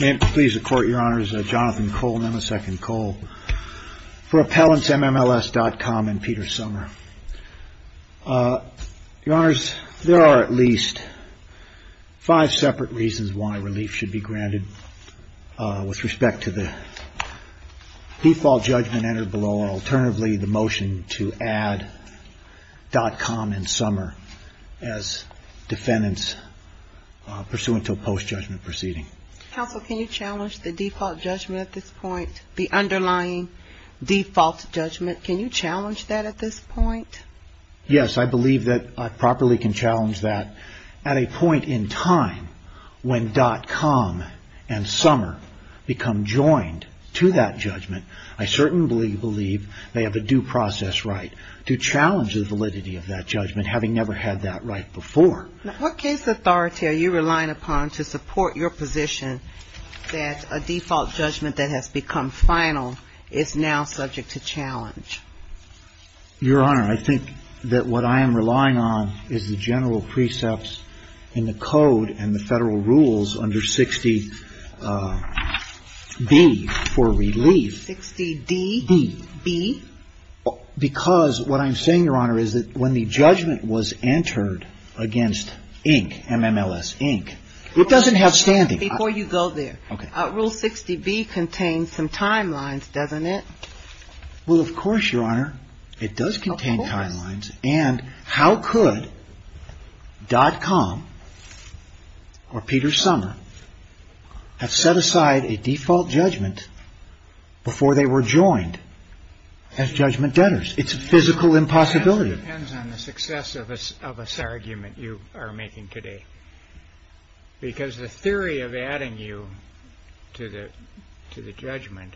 May it please the Court, Your Honors, Jonathan Cole and Emma Second Cole for appellants M-MLS.com and Peter Sommer. Your Honors, there are at least five separate reasons why relief should be granted with respect to the default judgment entered below or alternatively the motion to add .com and Sommer as defendants pursuant to a post-judgment proceeding. Counsel, can you challenge the default judgment at this point, the underlying default judgment, can you challenge that at this point? Yes, I believe that I properly can challenge that at a point in time when .com and Sommer become joined to that judgment. I certainly believe they have a due process right to challenge the validity of that judgment having never had that right before. What case authority are you relying upon to support your position that a default judgment that has become final is now subject to challenge? Your Honor, I think that what I am relying on is the general precepts in the Code and the Federal Rules under 60B for relief. 60D? B. B. Because what I'm saying, Your Honor, is that when the judgment was entered against Inc., M-MLS, Inc., it doesn't have standing. Before you go there. Okay. Rule 60B contains some timelines, doesn't it? Well, of course, Your Honor, it does contain timelines. And how could .com or Peter Sommer have set aside a default judgment before they were joined as judgment debtors? It's a physical impossibility. It depends on the success of a argument you are making today. Because the theory of adding you to the judgment,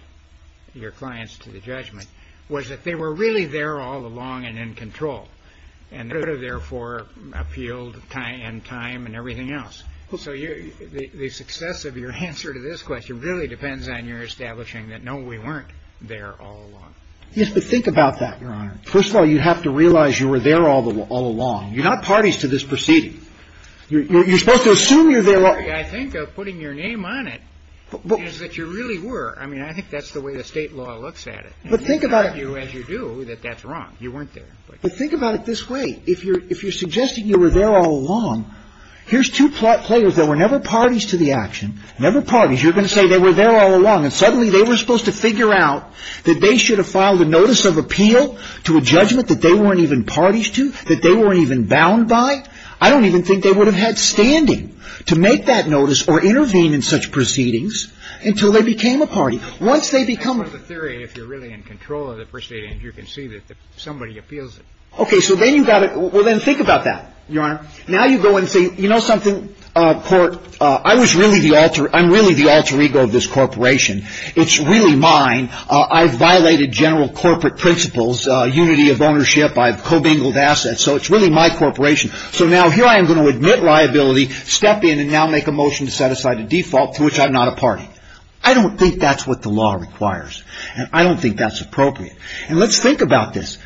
your clients to the judgment, was that they were really there all along and in control. And they were there for appeal and time and everything else. So the success of your answer to this question really depends on your establishing that, no, we weren't there all along. First of all, you have to realize you were there all along. You're not parties to this proceeding. You're supposed to assume you're there all along. The way I think of putting your name on it is that you really were. I mean, I think that's the way the state law looks at it. But think about it. As you do, that that's wrong. You weren't there. But think about it this way. If you're suggesting you were there all along, here's two players that were never parties to the action, never parties. You're going to say they were there all along. And suddenly they were supposed to figure out that they should have filed a notice of appeal to a judgment that they weren't even parties to, that they weren't even bound by. I don't even think they would have had standing to make that notice or intervene in such proceedings until they became a party. Once they become a party. In the theory, if you're really in control of the proceedings, you can see that somebody appeals it. Okay. So then you've got to – well, then think about that, Your Honor. Now you go and say, you know something, court, I was really the alter – I'm really the alter ego of this corporation. It's really mine. I've violated general corporate principles, unity of ownership. I've co-bingled assets. So it's really my corporation. So now here I am going to admit liability, step in, and now make a motion to set aside a default to which I'm not a party. I don't think that's what the law requires. And I don't think that's appropriate. And let's think about this.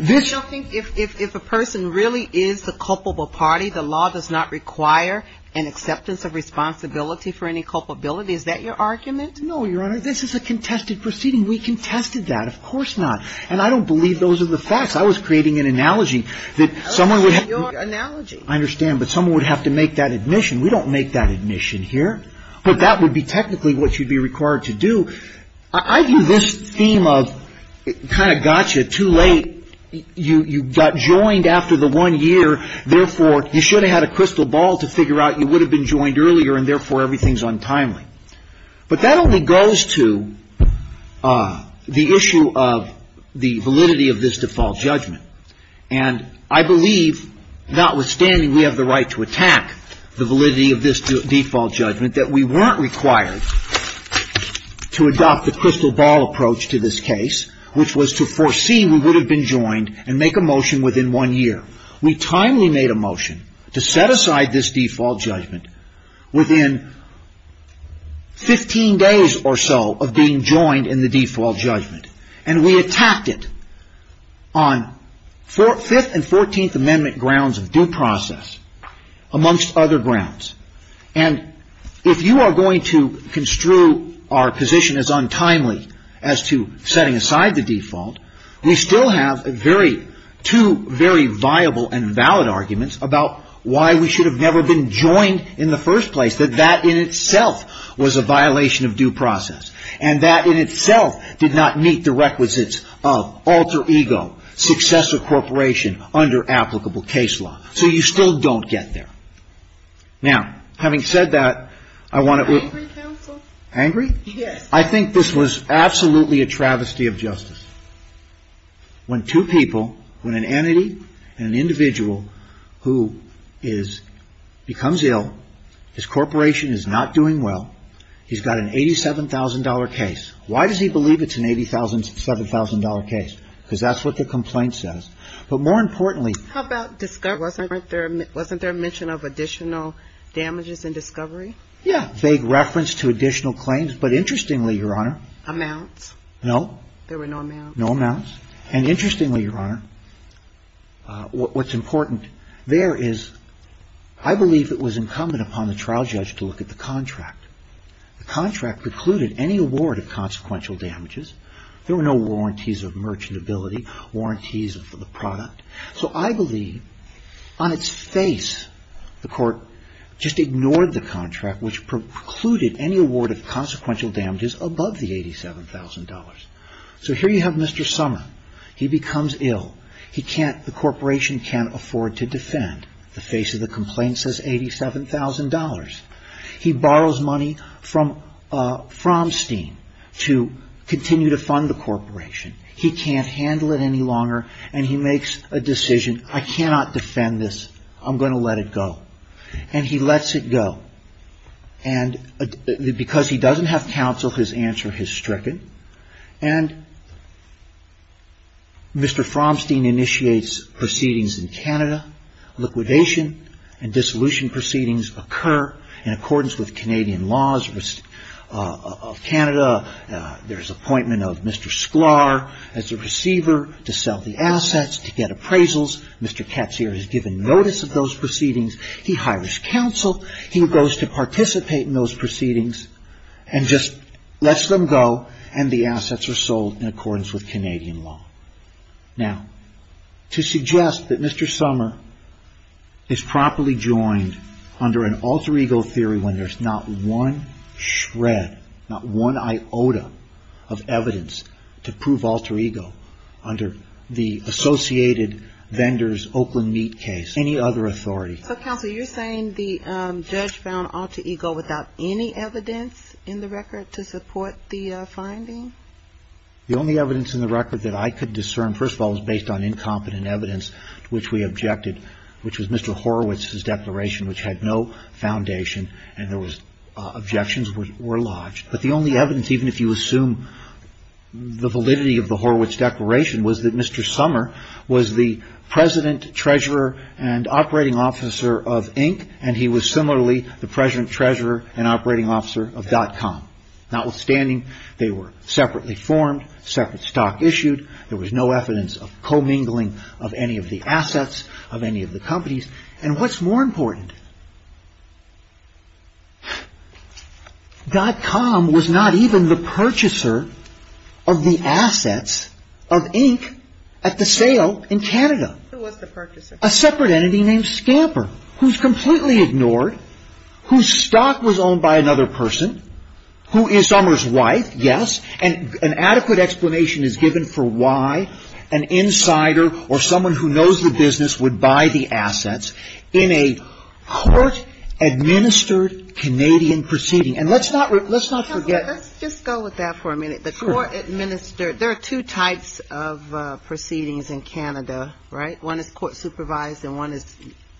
I don't think if a person really is the culpable party, the law does not require an acceptance of responsibility for any culpability. Is that your argument? No, Your Honor. This is a contested proceeding. We contested that. Of course not. And I don't believe those are the facts. I was creating an analogy that someone would have – That's your analogy. I understand. But someone would have to make that admission. We don't make that admission here. But that would be technically what you'd be required to do. I view this theme of kind of gotcha, too late. You got joined after the one year. Therefore, you should have had a crystal ball to figure out you would have been joined earlier, and therefore everything is untimely. But that only goes to the issue of the validity of this default judgment. And I believe, notwithstanding we have the right to attack the validity of this default judgment, that we weren't required to adopt the crystal ball approach to this case, which was to foresee we would have been joined and make a motion within one year. We timely made a motion to set aside this default judgment within 15 days or so of being joined in the default judgment. And we attacked it on Fifth and Fourteenth Amendment grounds of due process, amongst other grounds. And if you are going to construe our position as untimely as to setting aside the default, we still have two very viable and valid arguments about why we should have never been joined in the first place, that that in itself was a violation of due process. And that in itself did not meet the requisites of alter ego, successor corporation under applicable case law. So you still don't get there. Now, having said that, I want to... Angry, counsel? Angry? I think this was absolutely a travesty of justice. When two people, when an entity and an individual who becomes ill, his corporation is not doing well, he's got an $87,000 case. Why does he believe it's an $87,000 case? Because that's what the complaint says. But more importantly... How about discovery? Wasn't there a mention of additional damages in discovery? Yeah. Vague reference to additional claims. But interestingly, Your Honor... Amounts. No. There were no amounts? No amounts. And interestingly, Your Honor, what's important there is I believe it was incumbent upon the trial judge to look at the contract. The contract precluded any award of consequential damages. There were no warranties of merchantability, warranties for the product. So I believe, on its face, the court just ignored the contract which precluded any award of consequential damages above the $87,000. So here you have Mr. Sommer. He becomes ill. He can't... The corporation can't afford to defend. The face of the complaint says $87,000. He borrows money from Framstein to continue to fund the corporation. He can't handle it any longer. And he makes a decision, I cannot defend this. I'm going to let it go. And he lets it go. And because he doesn't have counsel, his answer is stricken. And Mr. Framstein initiates proceedings in Canada. Liquidation and dissolution proceedings occur in accordance with Canadian laws of Canada. There's an appointment of Mr. Sklar as a receiver to sell the assets, to get appraisals. Mr. Ketzer has given notice of those proceedings. He hires counsel. He goes to participate in those proceedings and just lets them go, and the assets are sold in accordance with Canadian law. Now, to suggest that Mr. Sommer is properly joined under an alter ego theory when there's not one shred, not one iota of evidence to prove alter ego under the Associated Vendors Oakland Meat case, any other authority. So counsel, you're saying the judge found alter ego without any evidence in the record to support the finding? The only evidence in the record that I could discern, first of all, was based on incompetent evidence to which we objected, which was Mr. Horowitz's declaration, which had no foundation, and there was objections were lodged. But the only evidence, even if you assume the validity of the Horowitz declaration, was that Mr. Sommer was the president, treasurer, and operating officer of Inc., and he was similarly the president, treasurer, and operating officer of .com. Notwithstanding, they were separately formed, separate stock issued, there was no evidence of commingling of any of the assets of any of the companies. And what's more important, .com was not even the purchaser of the assets of Inc. at the sale in Canada. Who was the purchaser? A separate entity named Scamper, who's completely ignored, whose stock was owned by another person, who is Sommer's wife, yes. And an adequate explanation is given for why an insider or someone who knows the business would buy the assets in a court-administered Canadian proceeding. And let's not forget. Let's just go with that for a minute. The court-administered. There are two types of proceedings in Canada, right? One is court-supervised and one is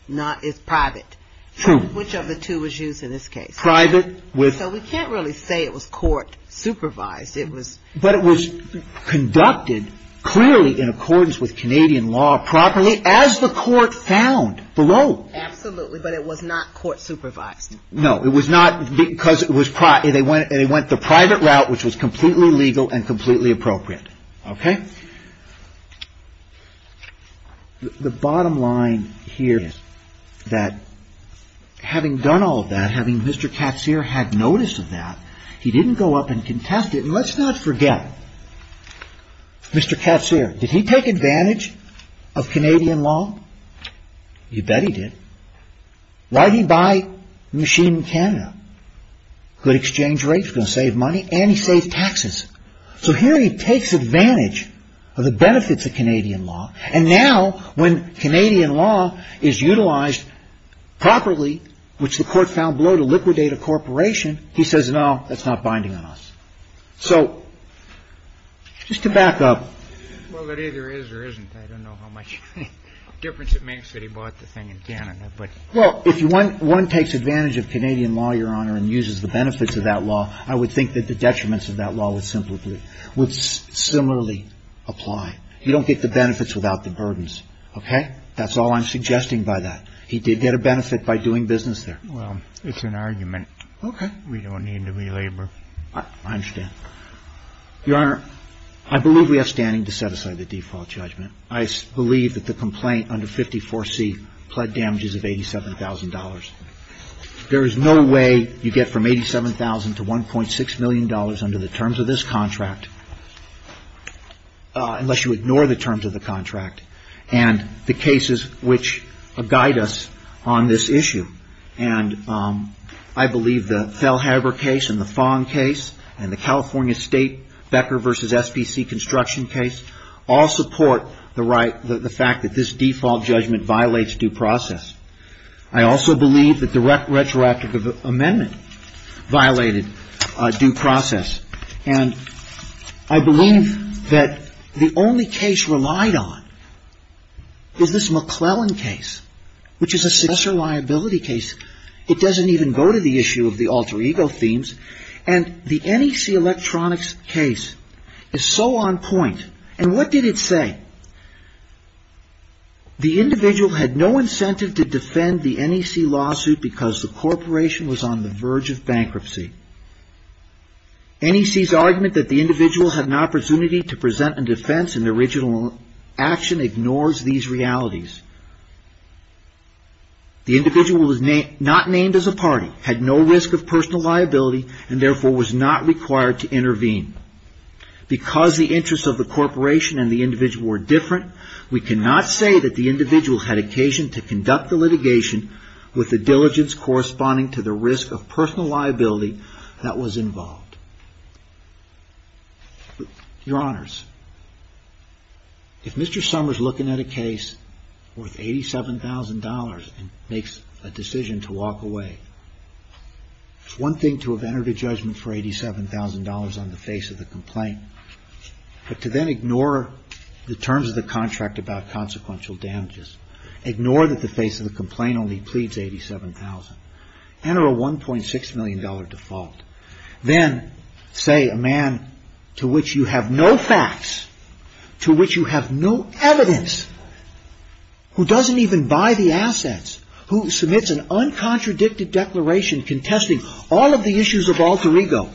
not. It's private. True. Which of the two was used in this case? So we can't really say it was court-supervised. But it was conducted clearly in accordance with Canadian law properly, as the court found below. Absolutely. But it was not court-supervised. No. It was not because they went the private route, which was completely legal and completely appropriate. Okay? The bottom line here is that having done all of that, having Mr. Katsir had noticed of that, he didn't go up and contest it. And let's not forget Mr. Katsir. Did he take advantage of Canadian law? You bet he did. Why did he buy a machine in Canada? Good exchange rates, going to save money, and he saved taxes. So here he takes advantage of the benefits of Canadian law. And now when Canadian law is utilized properly, which the court found below to liquidate a corporation, he says, no, that's not binding on us. So just to back up. Well, it either is or isn't. I don't know how much difference it makes that he bought the thing in Canada. Well, if one takes advantage of Canadian law, Your Honor, and uses the benefits of that law, I would think that the detriments of that law would similarly apply. You don't get the benefits without the burdens. Okay? That's all I'm suggesting by that. He did get a benefit by doing business there. Well, it's an argument. Okay. We don't need to relabor. I understand. Your Honor, I believe we have standing to set aside the default judgment. I believe that the complaint under 54C pled damages of $87,000. There is no way you get from $87,000 to $1.6 million under the terms of this contract unless you ignore the terms of the contract. And the cases which guide us on this issue, and I believe the Felhaber case and the Fong case and the California State Becker v. SBC construction case all support the fact that this default judgment violates due process. I also believe that the retroactive amendment violated due process. And I believe that the only case relied on is this McClellan case, which is a successor liability case. It doesn't even go to the issue of the alter ego themes, and the NEC Electronics case is so on point. And what did it say? The individual had no incentive to defend the NEC lawsuit because the corporation was on the verge of bankruptcy. NEC's argument that the individual had an opportunity to present a defense in original action ignores these realities. The individual was not named as a party, had no risk of personal liability, and therefore was not required to intervene. Because the interests of the corporation and the individual were different, we cannot say that the individual had occasion to conduct the litigation with the diligence corresponding to the risk of personal liability that was involved. Your Honors, if Mr. Summers looking at a case worth $87,000 and makes a decision to walk away, it's one thing to have entered a judgment for $87,000 on the face of it. But to then ignore the terms of the contract about consequential damages, ignore that the face of the complaint only pleads $87,000, enter a $1.6 million default, then say a man to which you have no facts, to which you have no evidence, who doesn't even buy the assets, who submits an uncontradicted declaration contesting all of the issues of alter ego.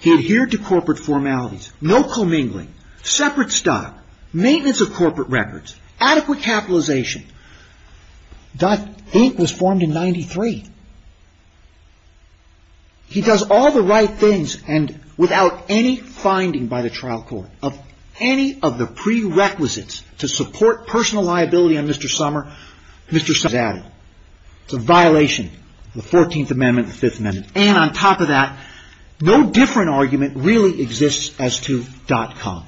He adhered to corporate formalities. No commingling. Separate stock. Maintenance of corporate records. Adequate capitalization. .8 was formed in 1993. He does all the right things and without any finding by the trial court of any of the prerequisites to support personal liability on Mr. Summers, Mr. Summers is out. It's a violation of the 14th Amendment, the 5th Amendment. And on top of that, no different argument really exists as to .com.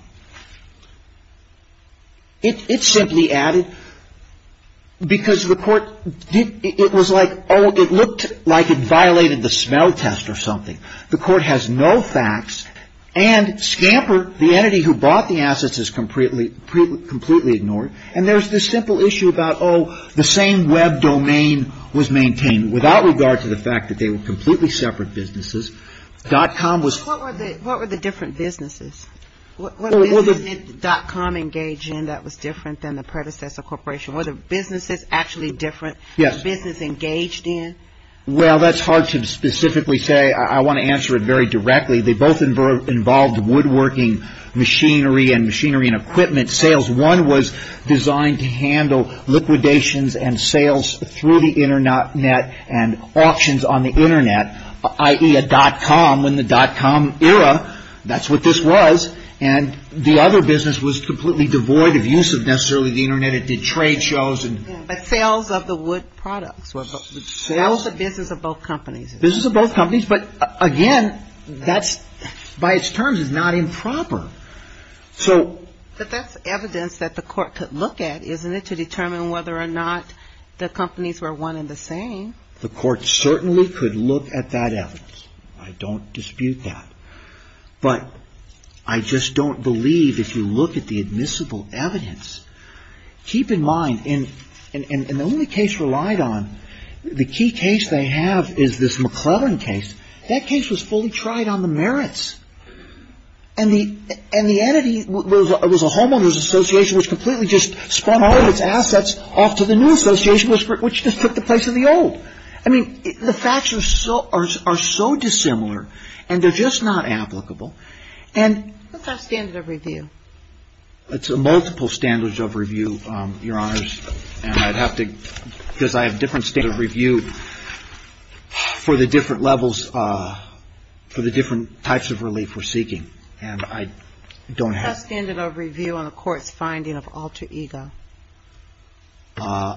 It's simply added because the court, it was like, oh, it looked like it violated the smell test or something. The court has no facts, and Scamper, the entity who bought the assets, is completely ignored. And there's this simple issue about, oh, the same web domain. The domain was maintained without regard to the fact that they were completely separate businesses. .com was... What were the different businesses? What businesses did .com engage in that was different than the predecessor corporation? Were the businesses actually different? Yes. Business engaged in? Well, that's hard to specifically say. I want to answer it very directly. They both involved woodworking machinery and machinery and equipment sales. One was designed to handle liquidations and sales through the Internet and auctions on the Internet, i.e., a .com in the .com era. That's what this was. And the other business was completely devoid of use of necessarily the Internet. It did trade shows and... But sales of the wood products. Sales of business of both companies. Business of both companies. But again, that's, by its terms, is not improper. So... But that's evidence that the court could look at, isn't it, to determine whether or not the companies were one and the same? The court certainly could look at that evidence. I don't dispute that. But I just don't believe if you look at the admissible evidence... Keep in mind, and the only case relied on, the key case they have is this McClellan case. That case was fully tried on the merits. And the entity was a homeowners association which completely just spun all of its assets off to the new association, which just took the place of the old. I mean, the facts are so dissimilar, and they're just not applicable. And... What's our standard of review? It's a multiple standards of review, Your Honors. And I'd have to, because I have different standards of review for the different levels, for the different types of reviews. And I don't have...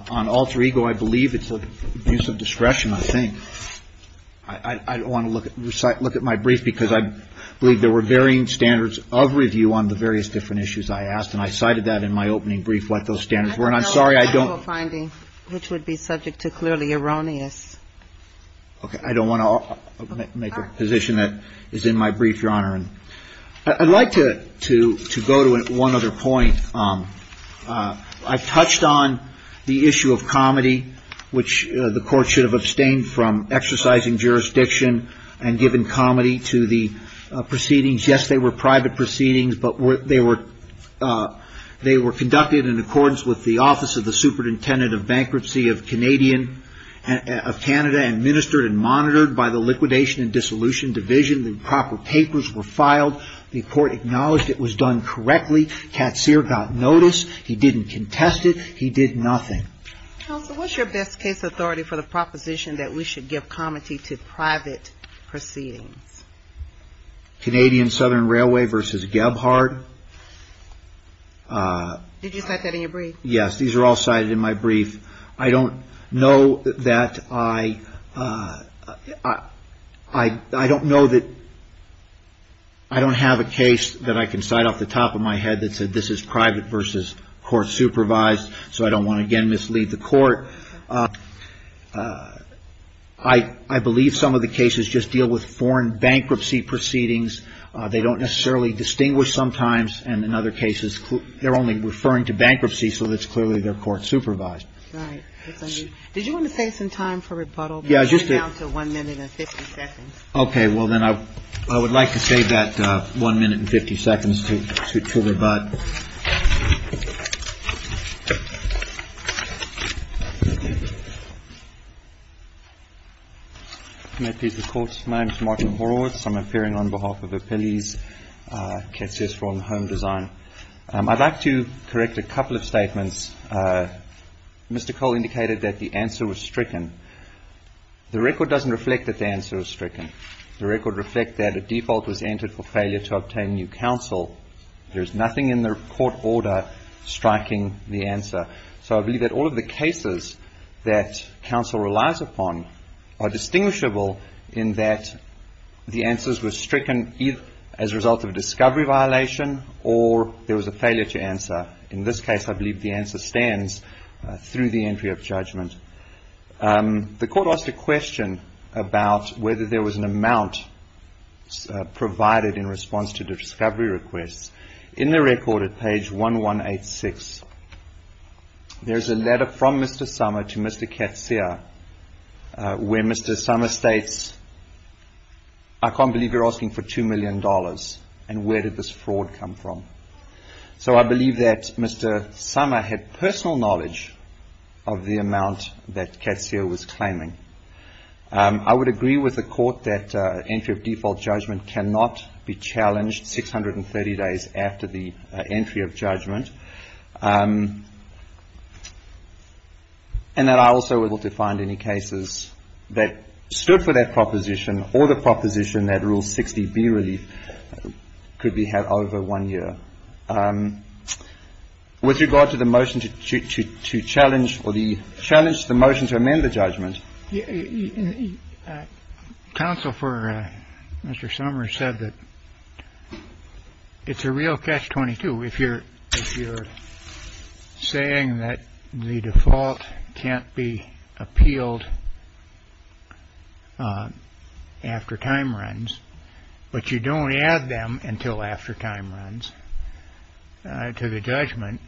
On alter ego, I believe it's an abuse of discretion, I think. I don't want to look at my brief, because I believe there were varying standards of review on the various different issues I asked. And I cited that in my opening brief, what those standards were. And I'm sorry, I don't... Which would be subject to clearly erroneous... Okay, I don't want to make a position that is in my brief, Your Honor. I'd like to go to one other point. I touched on the issue of comedy, which the Court should have abstained from exercising jurisdiction and giving comedy to the proceedings. Yes, they were private proceedings, but they were conducted in accordance with the Office of the Superintendent of Bankruptcy of Canada, administered and monitored by the Liquidation and Dissolution Division. The proper papers were filed. The Court acknowledged it was done correctly. Katzer got notice. He didn't contest it. He did nothing. Counsel, what's your best case authority for the proposition that we should give comedy to private proceedings? Canadian Southern Railway v. Gebhardt. Did you cite that in your brief? Yes, these are all cited in my brief. I don't know that I... I don't know that... I don't have a case that I can cite off the top of my head that said this is private v. Court-supervised, so I don't want to again mislead the Court. I believe some of the cases just deal with foreign bankruptcy proceedings. They don't necessarily distinguish sometimes. And in other cases, they're only referring to bankruptcy, so it's clearly they're Court-supervised. Right. Did you want to save some time for rebuttal? Yeah, just to... We're down to 1 minute and 50 seconds. Okay. Well, then I would like to save that 1 minute and 50 seconds to rebut. May it please the Court. My name is Martin Horowitz. I'm appearing on behalf of Appellee's Cases from Home Design. I'd like to correct a couple of statements. Mr. Cole indicated that the answer was stricken. The record doesn't reflect that the answer was stricken. The record reflects that a default was entered for failure to obtain new counsel. There's nothing in the court order striking the answer. So I believe that all of the cases that counsel relies upon are distinguishable in that the answers were stricken either as a result of a discovery violation or there was a failure to answer. In this case, I believe the answer stands through the entry of judgment. The court asked a question about whether there was an amount provided in response to the discovery request. In the record at page 1186, there's a letter from Mr. Summer to Mr. Katsuya where Mr. Summer states, I can't believe you're asking for $2 million and where did this fraud come from? So I believe that Mr. Summer had personal knowledge of the amount that Katsuya was claiming. I would agree with the court that entry of default judgment cannot be challenged 630 days after the entry of judgment. And that I also would look to find any cases that stood for that proposition or the proposition that Rule 60B relief could be had over one year. With regard to the motion to challenge or the challenge, the motion to amend the judgment. You counsel for Mr. Summer said that it's a real catch 22. If you're if you're saying that the default can't be appealed after time runs, but you don't have them until after time runs to the judgment.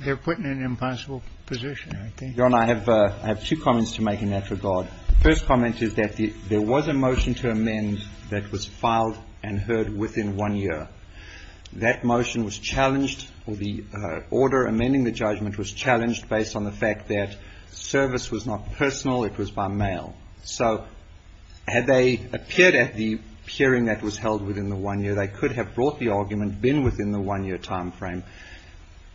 They're putting an impossible position, I think. I have two comments to make in that regard. First comment is that there was a motion to amend that was filed and heard within one year. That motion was challenged or the order amending the judgment was challenged based on the fact that service was not personal. It was by mail. So had they appeared at the hearing that was held within the one year, they could have brought the argument been within the one year time frame.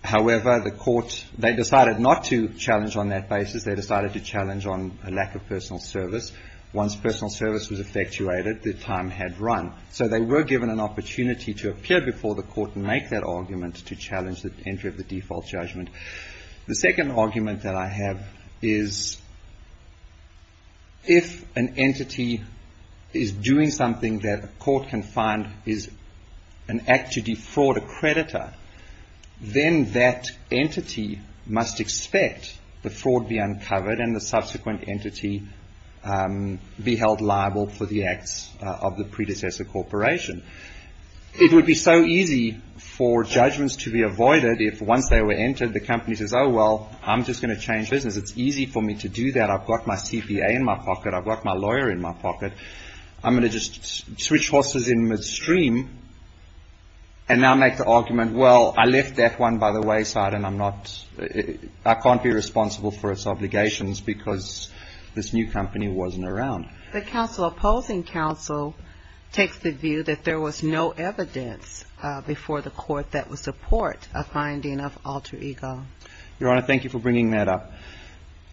However, the court, they decided not to challenge on that basis. They decided to challenge on a lack of personal service. Once personal service was effectuated, the time had run. So they were given an opportunity to appear before the court and make that argument to challenge the entry of the default judgment. The second argument that I have is. If an entity is doing something that a court can find is an act to defraud a creditor, then that entity must expect the fraud be uncovered and the subsequent entity be held liable for the acts of the predecessor corporation. It would be so easy for judgments to be avoided if once they were entered, the company says, oh, well, I'm just going to change business. It's easy for me to do that. I've got my CPA in my pocket. I've got my lawyer in my pocket. I'm going to just switch horses in midstream and now make the argument. Well, I left that one by the wayside and I'm not I can't be responsible for its obligations because this new company wasn't around. The opposing counsel takes the view that there was no evidence before the court that would support a finding of alter ego. Your Honor, thank you for bringing that up.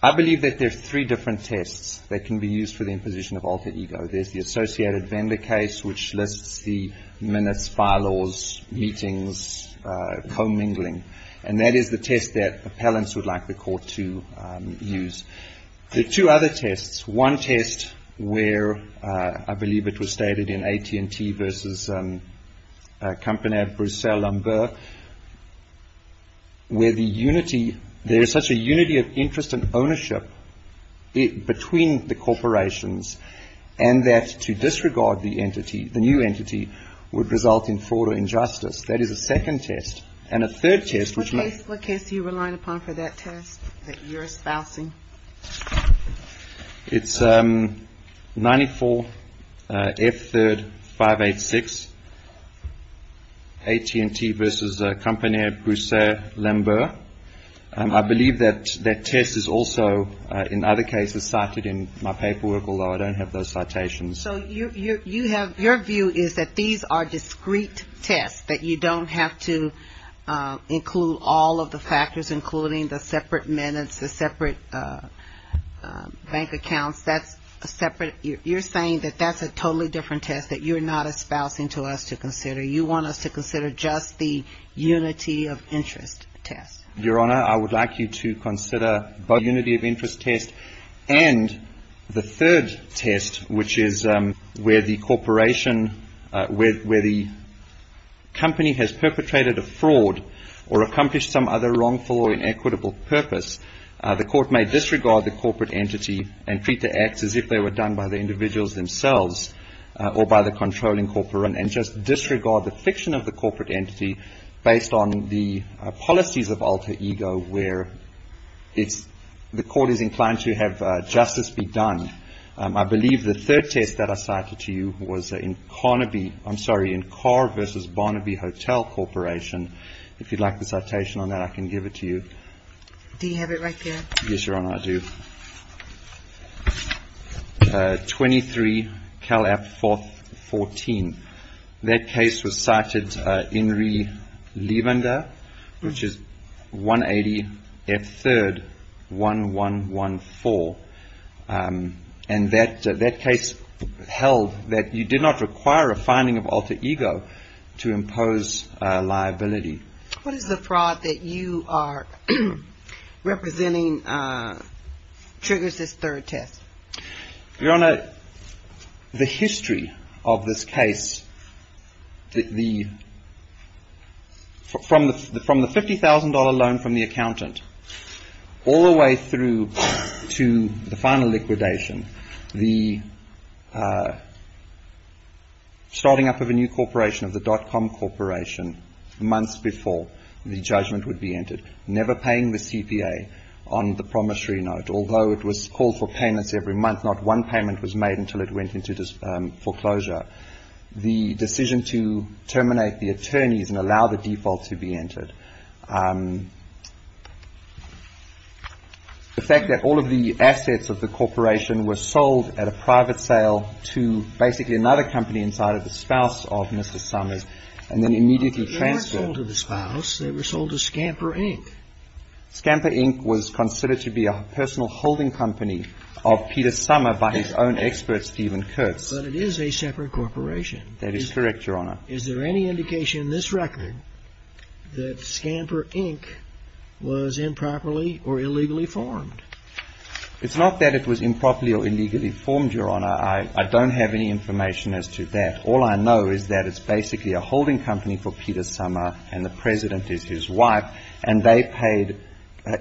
I believe that there's three different tests that can be used for the imposition of alter ego. There's the associated vendor case, which lists the minutes, bylaws, meetings, commingling. And that is the test that appellants would like the court to use. There are two other tests. One test where I believe it was stated in AT&T versus a company of Bruxelles Lambert where the unity there is such a unity of interest and ownership between the corporations and that to disregard the entity, the new entity would result in fraud or injustice. That is a second test. And a third test, which is what case you rely upon for that test that you're espousing. It's ninety four. If the five, eight, six. AT&T versus a company of Bruxelles Lambert. And I believe that that test is also in other cases cited in my paperwork. Although I don't have those citations. So you have your view is that these are discrete tests that you don't have to include all of the factors, including the separate minutes, the separate bank accounts. That's a separate. You're saying that that's a totally different test that you're not espousing to us to consider. You want us to consider just the unity of interest test. Your Honor, I would like you to consider both unity of interest test and the third test, which is where the corporation where the company has perpetrated a fraud or accomplished some other wrongful or inequitable purpose. The court may disregard the corporate entity and treat the acts as if they were done by the individuals themselves or by the controlling disregard the fiction of the corporate entity based on the policies of alter ego, where it's the court is inclined to have justice be done. I believe the third test that I cited to you was in Carnaby. I'm sorry, in car versus Barnaby Hotel Corporation. If you'd like the citation on that, I can give it to you. Do you have it right there? Yes, Your Honor, I do. Twenty three. Cal app for 14. That case was cited in really leave under which is one eighty third one one one four. And that that case held that you did not require a finding of alter ego to impose liability. What is the fraud that you are representing triggers this third test? Your Honor, the history of this case. The from the from the fifty thousand dollar loan from the accountant all the way through to the final liquidation, the starting up of a new corporation of the dotcom corporation months before the judgment would be entered, never paying the CPA on the promissory note, although it was called for payments every month. Not one payment was made until it went into foreclosure. The decision to terminate the attorneys and allow the default to be entered. The fact that all of the assets of the corporation were sold at a private sale to basically another company inside of the spouse of Mr. Summers and then immediately transferred to the spouse. They were sold to Scamper Inc. Scamper Inc. was considered to be a personal holding company of Peter Summer by his own expert, Stephen Kurtz. But it is a separate corporation. That is correct, Your Honor. Is there any indication in this record that Scamper Inc. was improperly or illegally formed? It's not that it was improperly or illegally formed, Your Honor. I don't have any information as to that. All I know is that it's basically a holding company for Peter Summer and the president is his wife. And they paid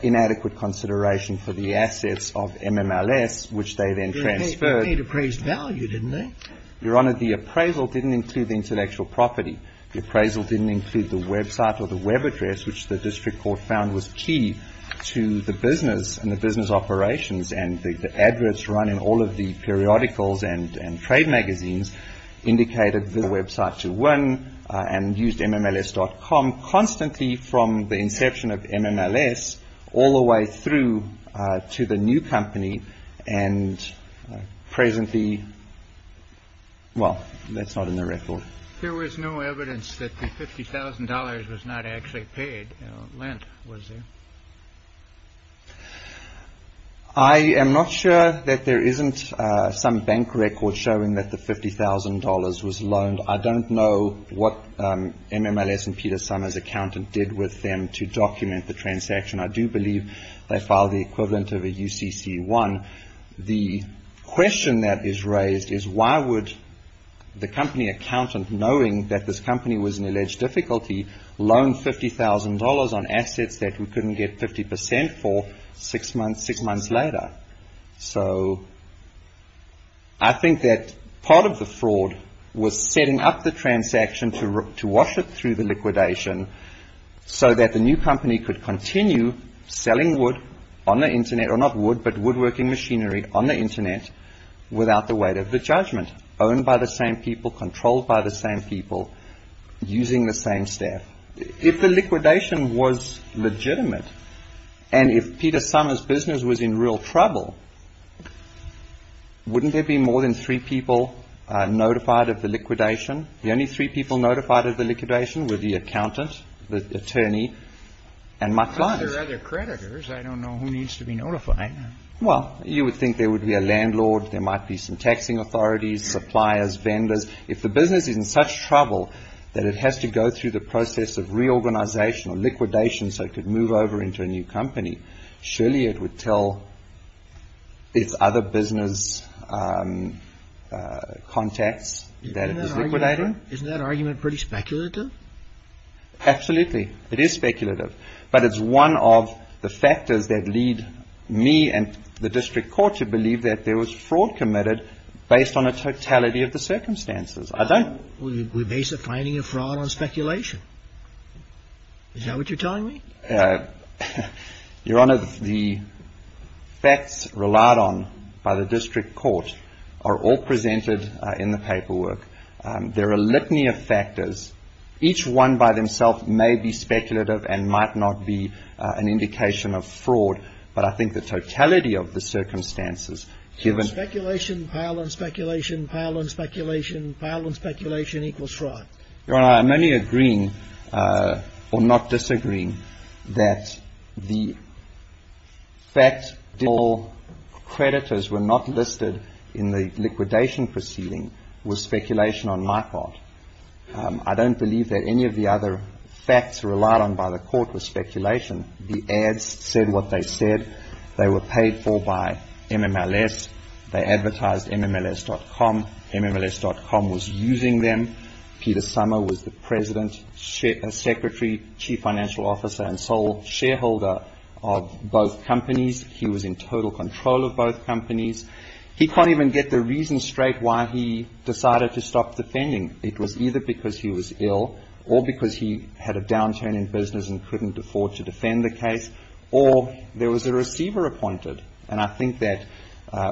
inadequate consideration for the assets of MMLS, which they then transferred. They paid appraised value, didn't they? Your Honor, the appraisal didn't include the intellectual property. The appraisal didn't include the website or the web address, which the district court found was key to the business and the business operations. And the adverts run in all of the periodicals and trade magazines indicated the website to win and used MMLS.com constantly from the Well, that's not in the record. There was no evidence that the $50,000 was not actually paid. Lent was there. I am not sure that there isn't some bank record showing that the $50,000 was loaned. I don't know what MMLS and Peter Summer's accountant did with them to document the transaction. I do believe they filed the equivalent of a UCC one. The question that is raised is why would the company accountant, knowing that this company was in alleged difficulty, loan $50,000 on assets that we couldn't get 50% for six months later? So I think that part of the fraud was setting up the transaction to wash it through the liquidation so that the new company could continue selling wood on the Internet, or not wood, but woodworking machinery on the Internet without the weight of the judgment, owned by the same people, controlled by the same people, using the same staff. If the liquidation was legitimate and if Peter Summer's business was in real trouble, wouldn't there be more than three people notified of the liquidation? The only three people notified of the liquidation were the accountant, the attorney, and my client. But there are other creditors. I don't know who needs to be notified. Well, you would think there would be a landlord. There might be some taxing authorities, suppliers, vendors. If the business is in such trouble that it has to go through the process of reorganization or liquidation so it could move over into a new company, surely it would tell its other business contacts that it was liquidating? Isn't that argument pretty speculative? Absolutely. It is speculative. But it's one of the factors that lead me and the district court to believe that there was fraud committed based on a totality of the circumstances. We're basically finding a fraud on speculation. Is that what you're telling me? Your Honor, the facts relied on by the district court are all presented in the paperwork. There are a litany of factors. Each one by themself may be speculative and might not be an indication of fraud, but I think the totality of the circumstances, given — Speculation, pile on speculation, pile on speculation, pile on speculation equals fraud. Your Honor, I'm only agreeing, or not disagreeing, that the fact that all creditors were not listed in the liquidation proceeding was speculation on my part. I don't believe that any of the other facts relied on by the court was speculation. The ads said what they said. They were paid for by MMLS. They advertised MMLS.com. MMLS.com was using them. Peter Sommer was the president, secretary, chief financial officer, and sole shareholder of both companies. He was in total control of both companies. He can't even get the reason straight why he decided to stop defending. It was either because he was ill or because he had a downturn in business and couldn't afford to defend the case, or there was a receiver appointed. And I think that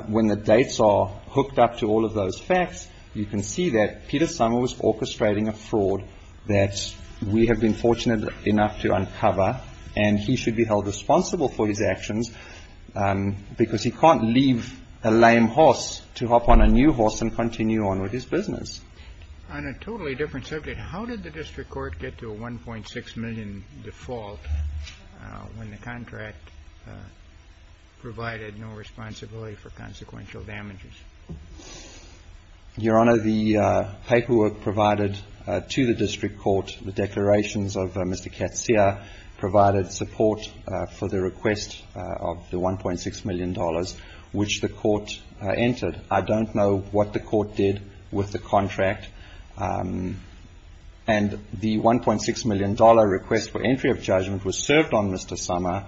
when the dates are hooked up to all of those facts, you can see that Peter Sommer was orchestrating a fraud that we have been fortunate enough to uncover, and he should be held responsible for his actions because he can't leave a lame horse to hop on a new horse and continue on with his business. On a totally different subject, how did the district court get to a 1.6 million default when the contract provided no responsibility for consequential damages? Your Honor, the paperwork provided to the district court, the declarations of Mr. Katzia, provided support for the request of the $1.6 million which the court entered. I don't know what the court did with the contract. And the $1.6 million request for entry of judgment was served on Mr. Sommer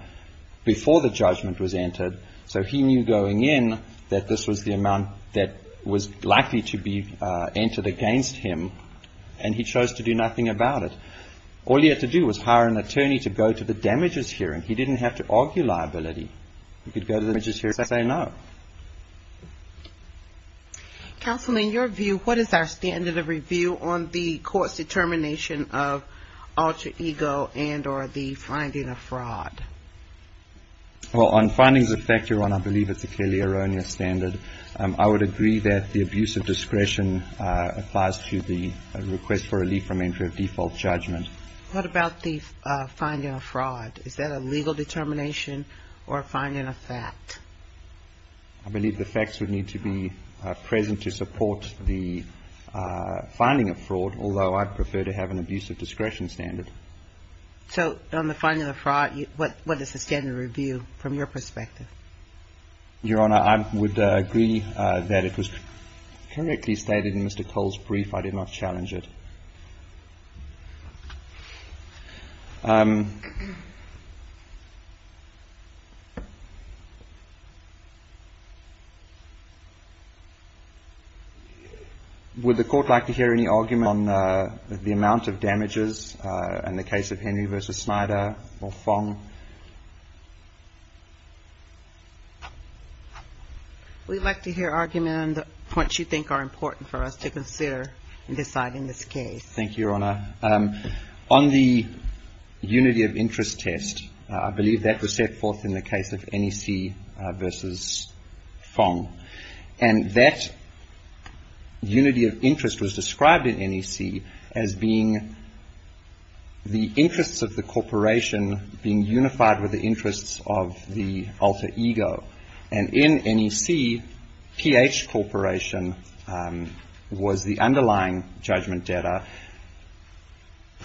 before the judgment was entered. So he knew going in that this was the amount that was likely to be entered against him, and he chose to do nothing about it. All he had to do was hire an attorney to go to the damages hearing. He didn't have to argue liability. He could go to the damages hearing and say no. Counsel, in your view, what is our standard of review on the court's determination of alter ego and or the finding of fraud? Well, on findings of fact, Your Honor, I believe it's a clearly erroneous standard. I would agree that the abuse of discretion applies to the request for relief from entry of default judgment. What about the finding of fraud? Is that a legal determination or a finding of fact? I believe the facts would need to be present to support the finding of fraud, although I'd prefer to have an abuse of discretion standard. So on the finding of fraud, what is the standard of review from your perspective? Your Honor, I would agree that it was correctly stated in Mr. Cole's brief. I did not challenge it. Would the court like to hear any argument on the amount of damages in the case of Henry v. Snyder or Fong? We'd like to hear argument on the points you think are important for us to consider in deciding this case. Thank you, Your Honor. On the unity of interest test, I believe that was set forth in the case of NEC v. Fong. And that unity of interest was described in NEC as being the interests of the corporation being unified with the interests of the alter ego. And in NEC, PH Corporation was the underlying judgment data. And it was the NEC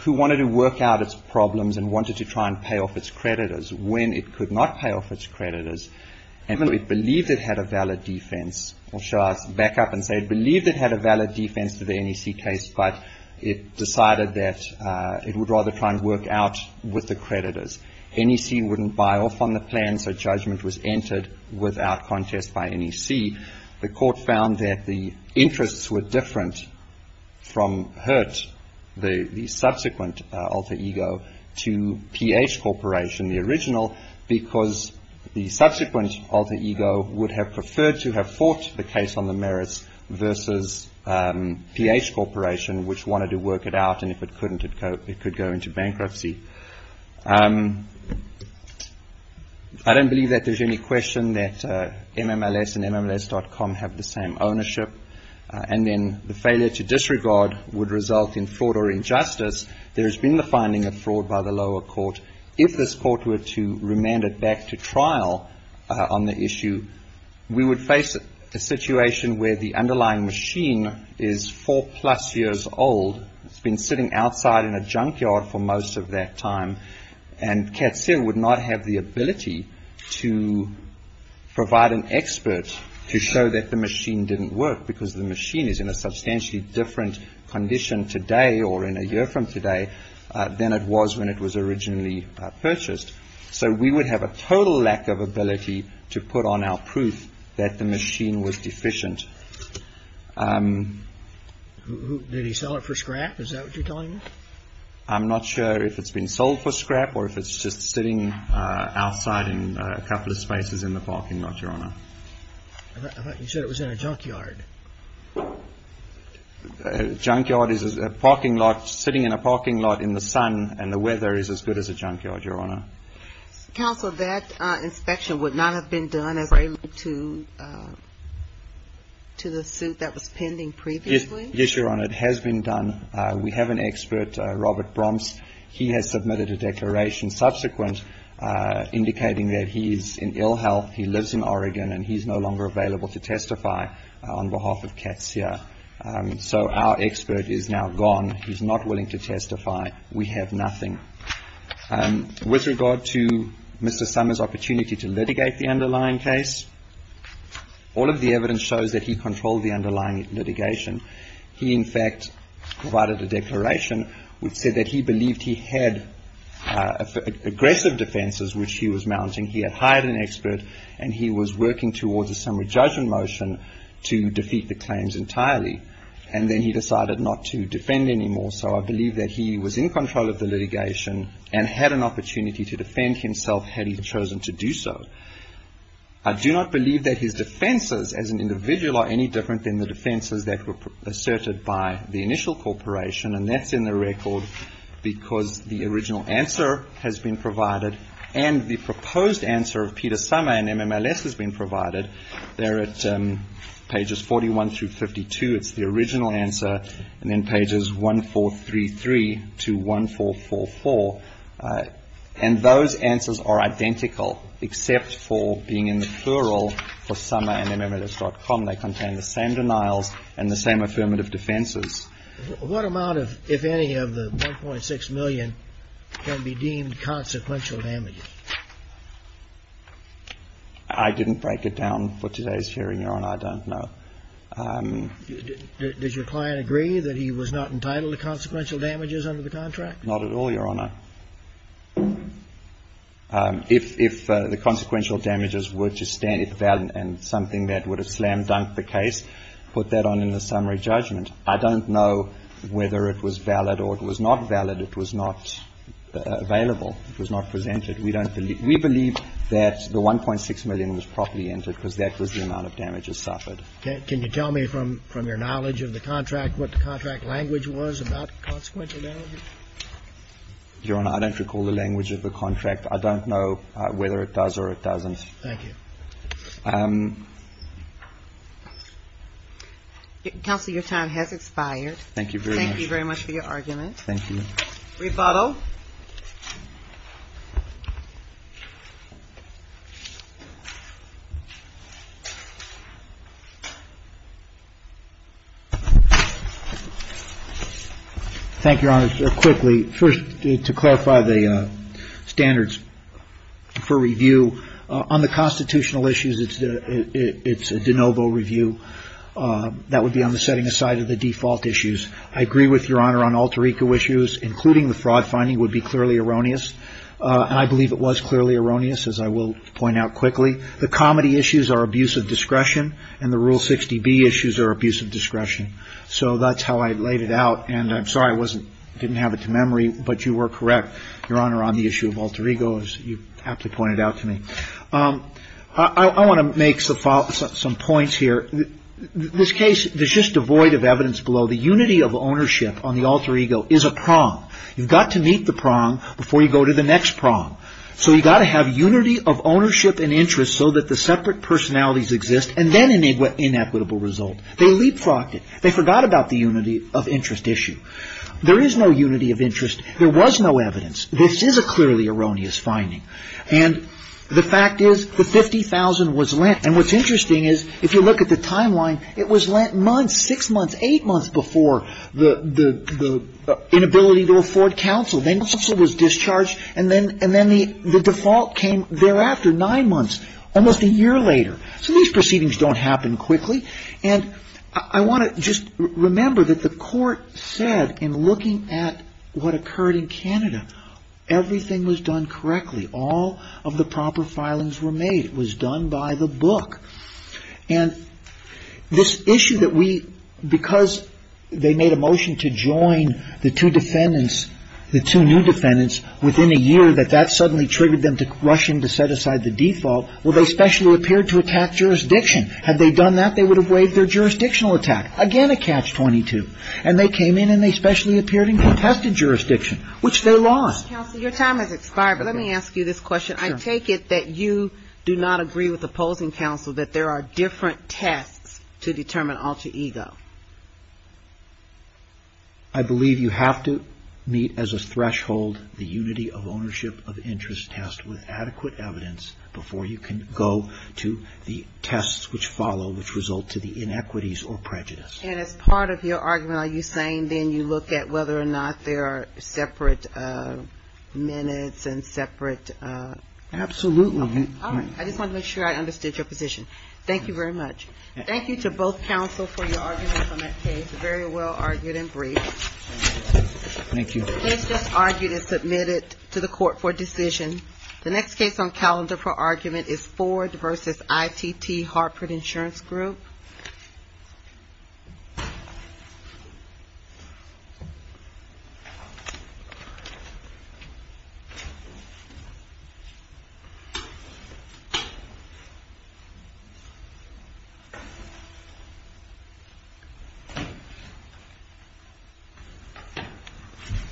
who wanted to work out its problems and wanted to try and pay off its creditors. When it could not pay off its creditors, and when it believed it had a valid defense or should I back up and say it believed it had a valid defense for the NEC case, but it decided that it would rather try and work out with the creditors. NEC wouldn't buy off on the plan, so judgment was entered without contest by NEC. In NEC, the court found that the interests were different from Hurt, the subsequent alter ego, to PH Corporation, the original, because the subsequent alter ego would have preferred to have fought the case on the merits versus PH Corporation, which wanted to work it out. And if it couldn't, it could go into bankruptcy. I don't believe that there's any question that MMLS and MMLS.com have the same ownership, and then the failure to disregard would result in fraud or injustice. There has been the finding of fraud by the lower court. If this court were to remand it back to trial on the issue, we would face a situation where the underlying machine is four-plus years old. It's been sitting outside in a junkyard for most of that time, and CATSIL would not have the ability to provide an expert to show that the machine didn't work because the machine is in a substantially different condition today or in a year from today than it was when it was originally purchased. So we would have a total lack of ability to put on our proof that the machine was deficient. Did he sell it for scrap? Is that what you're telling me? I'm not sure if it's been sold for scrap or if it's just sitting outside in a couple of spaces in the parking lot, Your Honor. I thought you said it was in a junkyard. A junkyard is a parking lot, sitting in a parking lot in the sun, and the weather is as good as a junkyard, Your Honor. Counsel, that inspection would not have been done as related to the suit that was pending previously? Yes, Your Honor. It has been done. We have an expert, Robert Bromps. He has submitted a declaration subsequent indicating that he is in ill health. He lives in Oregon, and he's no longer available to testify on behalf of CATSIL. So our expert is now gone. He's not willing to testify. We have nothing. With regard to Mr. Summers' opportunity to litigate the underlying case, all of the evidence shows that he controlled the underlying litigation. He, in fact, provided a declaration which said that he believed he had aggressive defenses, which he was mounting. He had hired an expert, and he was working towards a summary judgment motion to defeat the claims entirely, and then he decided not to defend anymore. So I believe that he was in control of the litigation and had an opportunity to defend himself had he chosen to do so. I do not believe that his defenses as an individual are any different than the defenses that were asserted by the initial corporation, and that's in the record because the original answer has been provided and the proposed answer of Peter Summers and MMLS has been provided. They're at pages 41 through 52. It's the original answer, and then pages 1433 to 1444, and those answers are identical except for being in the plural for Summers and MMLS.com. They contain the same denials and the same affirmative defenses. What amount, if any, of the $1.6 million can be deemed consequential damages? I didn't break it down for today's hearing, Your Honor. I don't know. Did your client agree that he was not entitled to consequential damages under the contract? Not at all, Your Honor. If the consequential damages were to stand and something that would have slam-dunked the case, put that on in the summary judgment. I don't know whether it was valid or it was not valid. It was not available. It was not presented. We don't believe we believe that the $1.6 million was properly entered because that was the amount of damages suffered. Can you tell me from your knowledge of the contract what the contract language was about consequential damages? Your Honor, I don't recall the language of the contract. I don't know whether it does or it doesn't. Thank you. Counsel, your time has expired. Thank you very much. Thank you very much for your argument. Thank you. Refato? Thank you, Your Honor. Quickly, first, to clarify the standards for review, on the constitutional issues, it's a de novo review. That would be on the setting aside of the default issues. I agree with Your Honor on alter ego issues, including the fraud finding, would be clearly erroneous. And I believe it was clearly erroneous, as I will point out quickly. The comedy issues are abuse of discretion. And the Rule 60B issues are abuse of discretion. So that's how I laid it out. And I'm sorry I didn't have it to memory, but you were correct, Your Honor, on the issue of alter ego, as you aptly pointed out to me. I want to make some points here. This case is just devoid of evidence below. The unity of ownership on the alter ego is a prong. You've got to meet the prong before you go to the next prong. So you've got to have unity of ownership and interest so that the separate personalities exist, and then an inequitable result. They leapfrogged it. They forgot about the unity of interest issue. There is no unity of interest. There was no evidence. This is a clearly erroneous finding. And the fact is, the $50,000 was lent. And what's interesting is, if you look at the timeline, it was lent months, six months, eight months before the inability to afford counsel. Then counsel was discharged, and then the default came thereafter, nine months, almost a year later. So these proceedings don't happen quickly. And I want to just remember that the court said, in looking at what occurred in Canada, everything was done correctly. All of the proper filings were made. It was done by the book. And this issue that we, because they made a motion to join the two defendants, the two new defendants, within a year, that that suddenly triggered them to rush in to set aside the default, well, they specially appeared to attack jurisdiction. Had they done that, they would have waived their jurisdictional attack. Again, a catch-22. And they came in, and they specially appeared in contested jurisdiction, which they lost. Counsel, your time has expired, but let me ask you this question. I take it that you do not agree with opposing counsel that there are different tests to determine alter ego. I believe you have to meet as a threshold the unity of ownership of interest test with adequate evidence before you can go to the tests which follow, which result to the inequities or prejudice. And as part of your argument, are you saying then you look at whether or not there are separate minutes and separate? Absolutely. All right. I just want to make sure I understood your position. Thank you very much. Thank you to both counsel for your arguments on that case. Very well argued and brief. Thank you. The case just argued and submitted to the court for decision. The next case on calendar for argument is Ford v. ITT Hartford Insurance Group.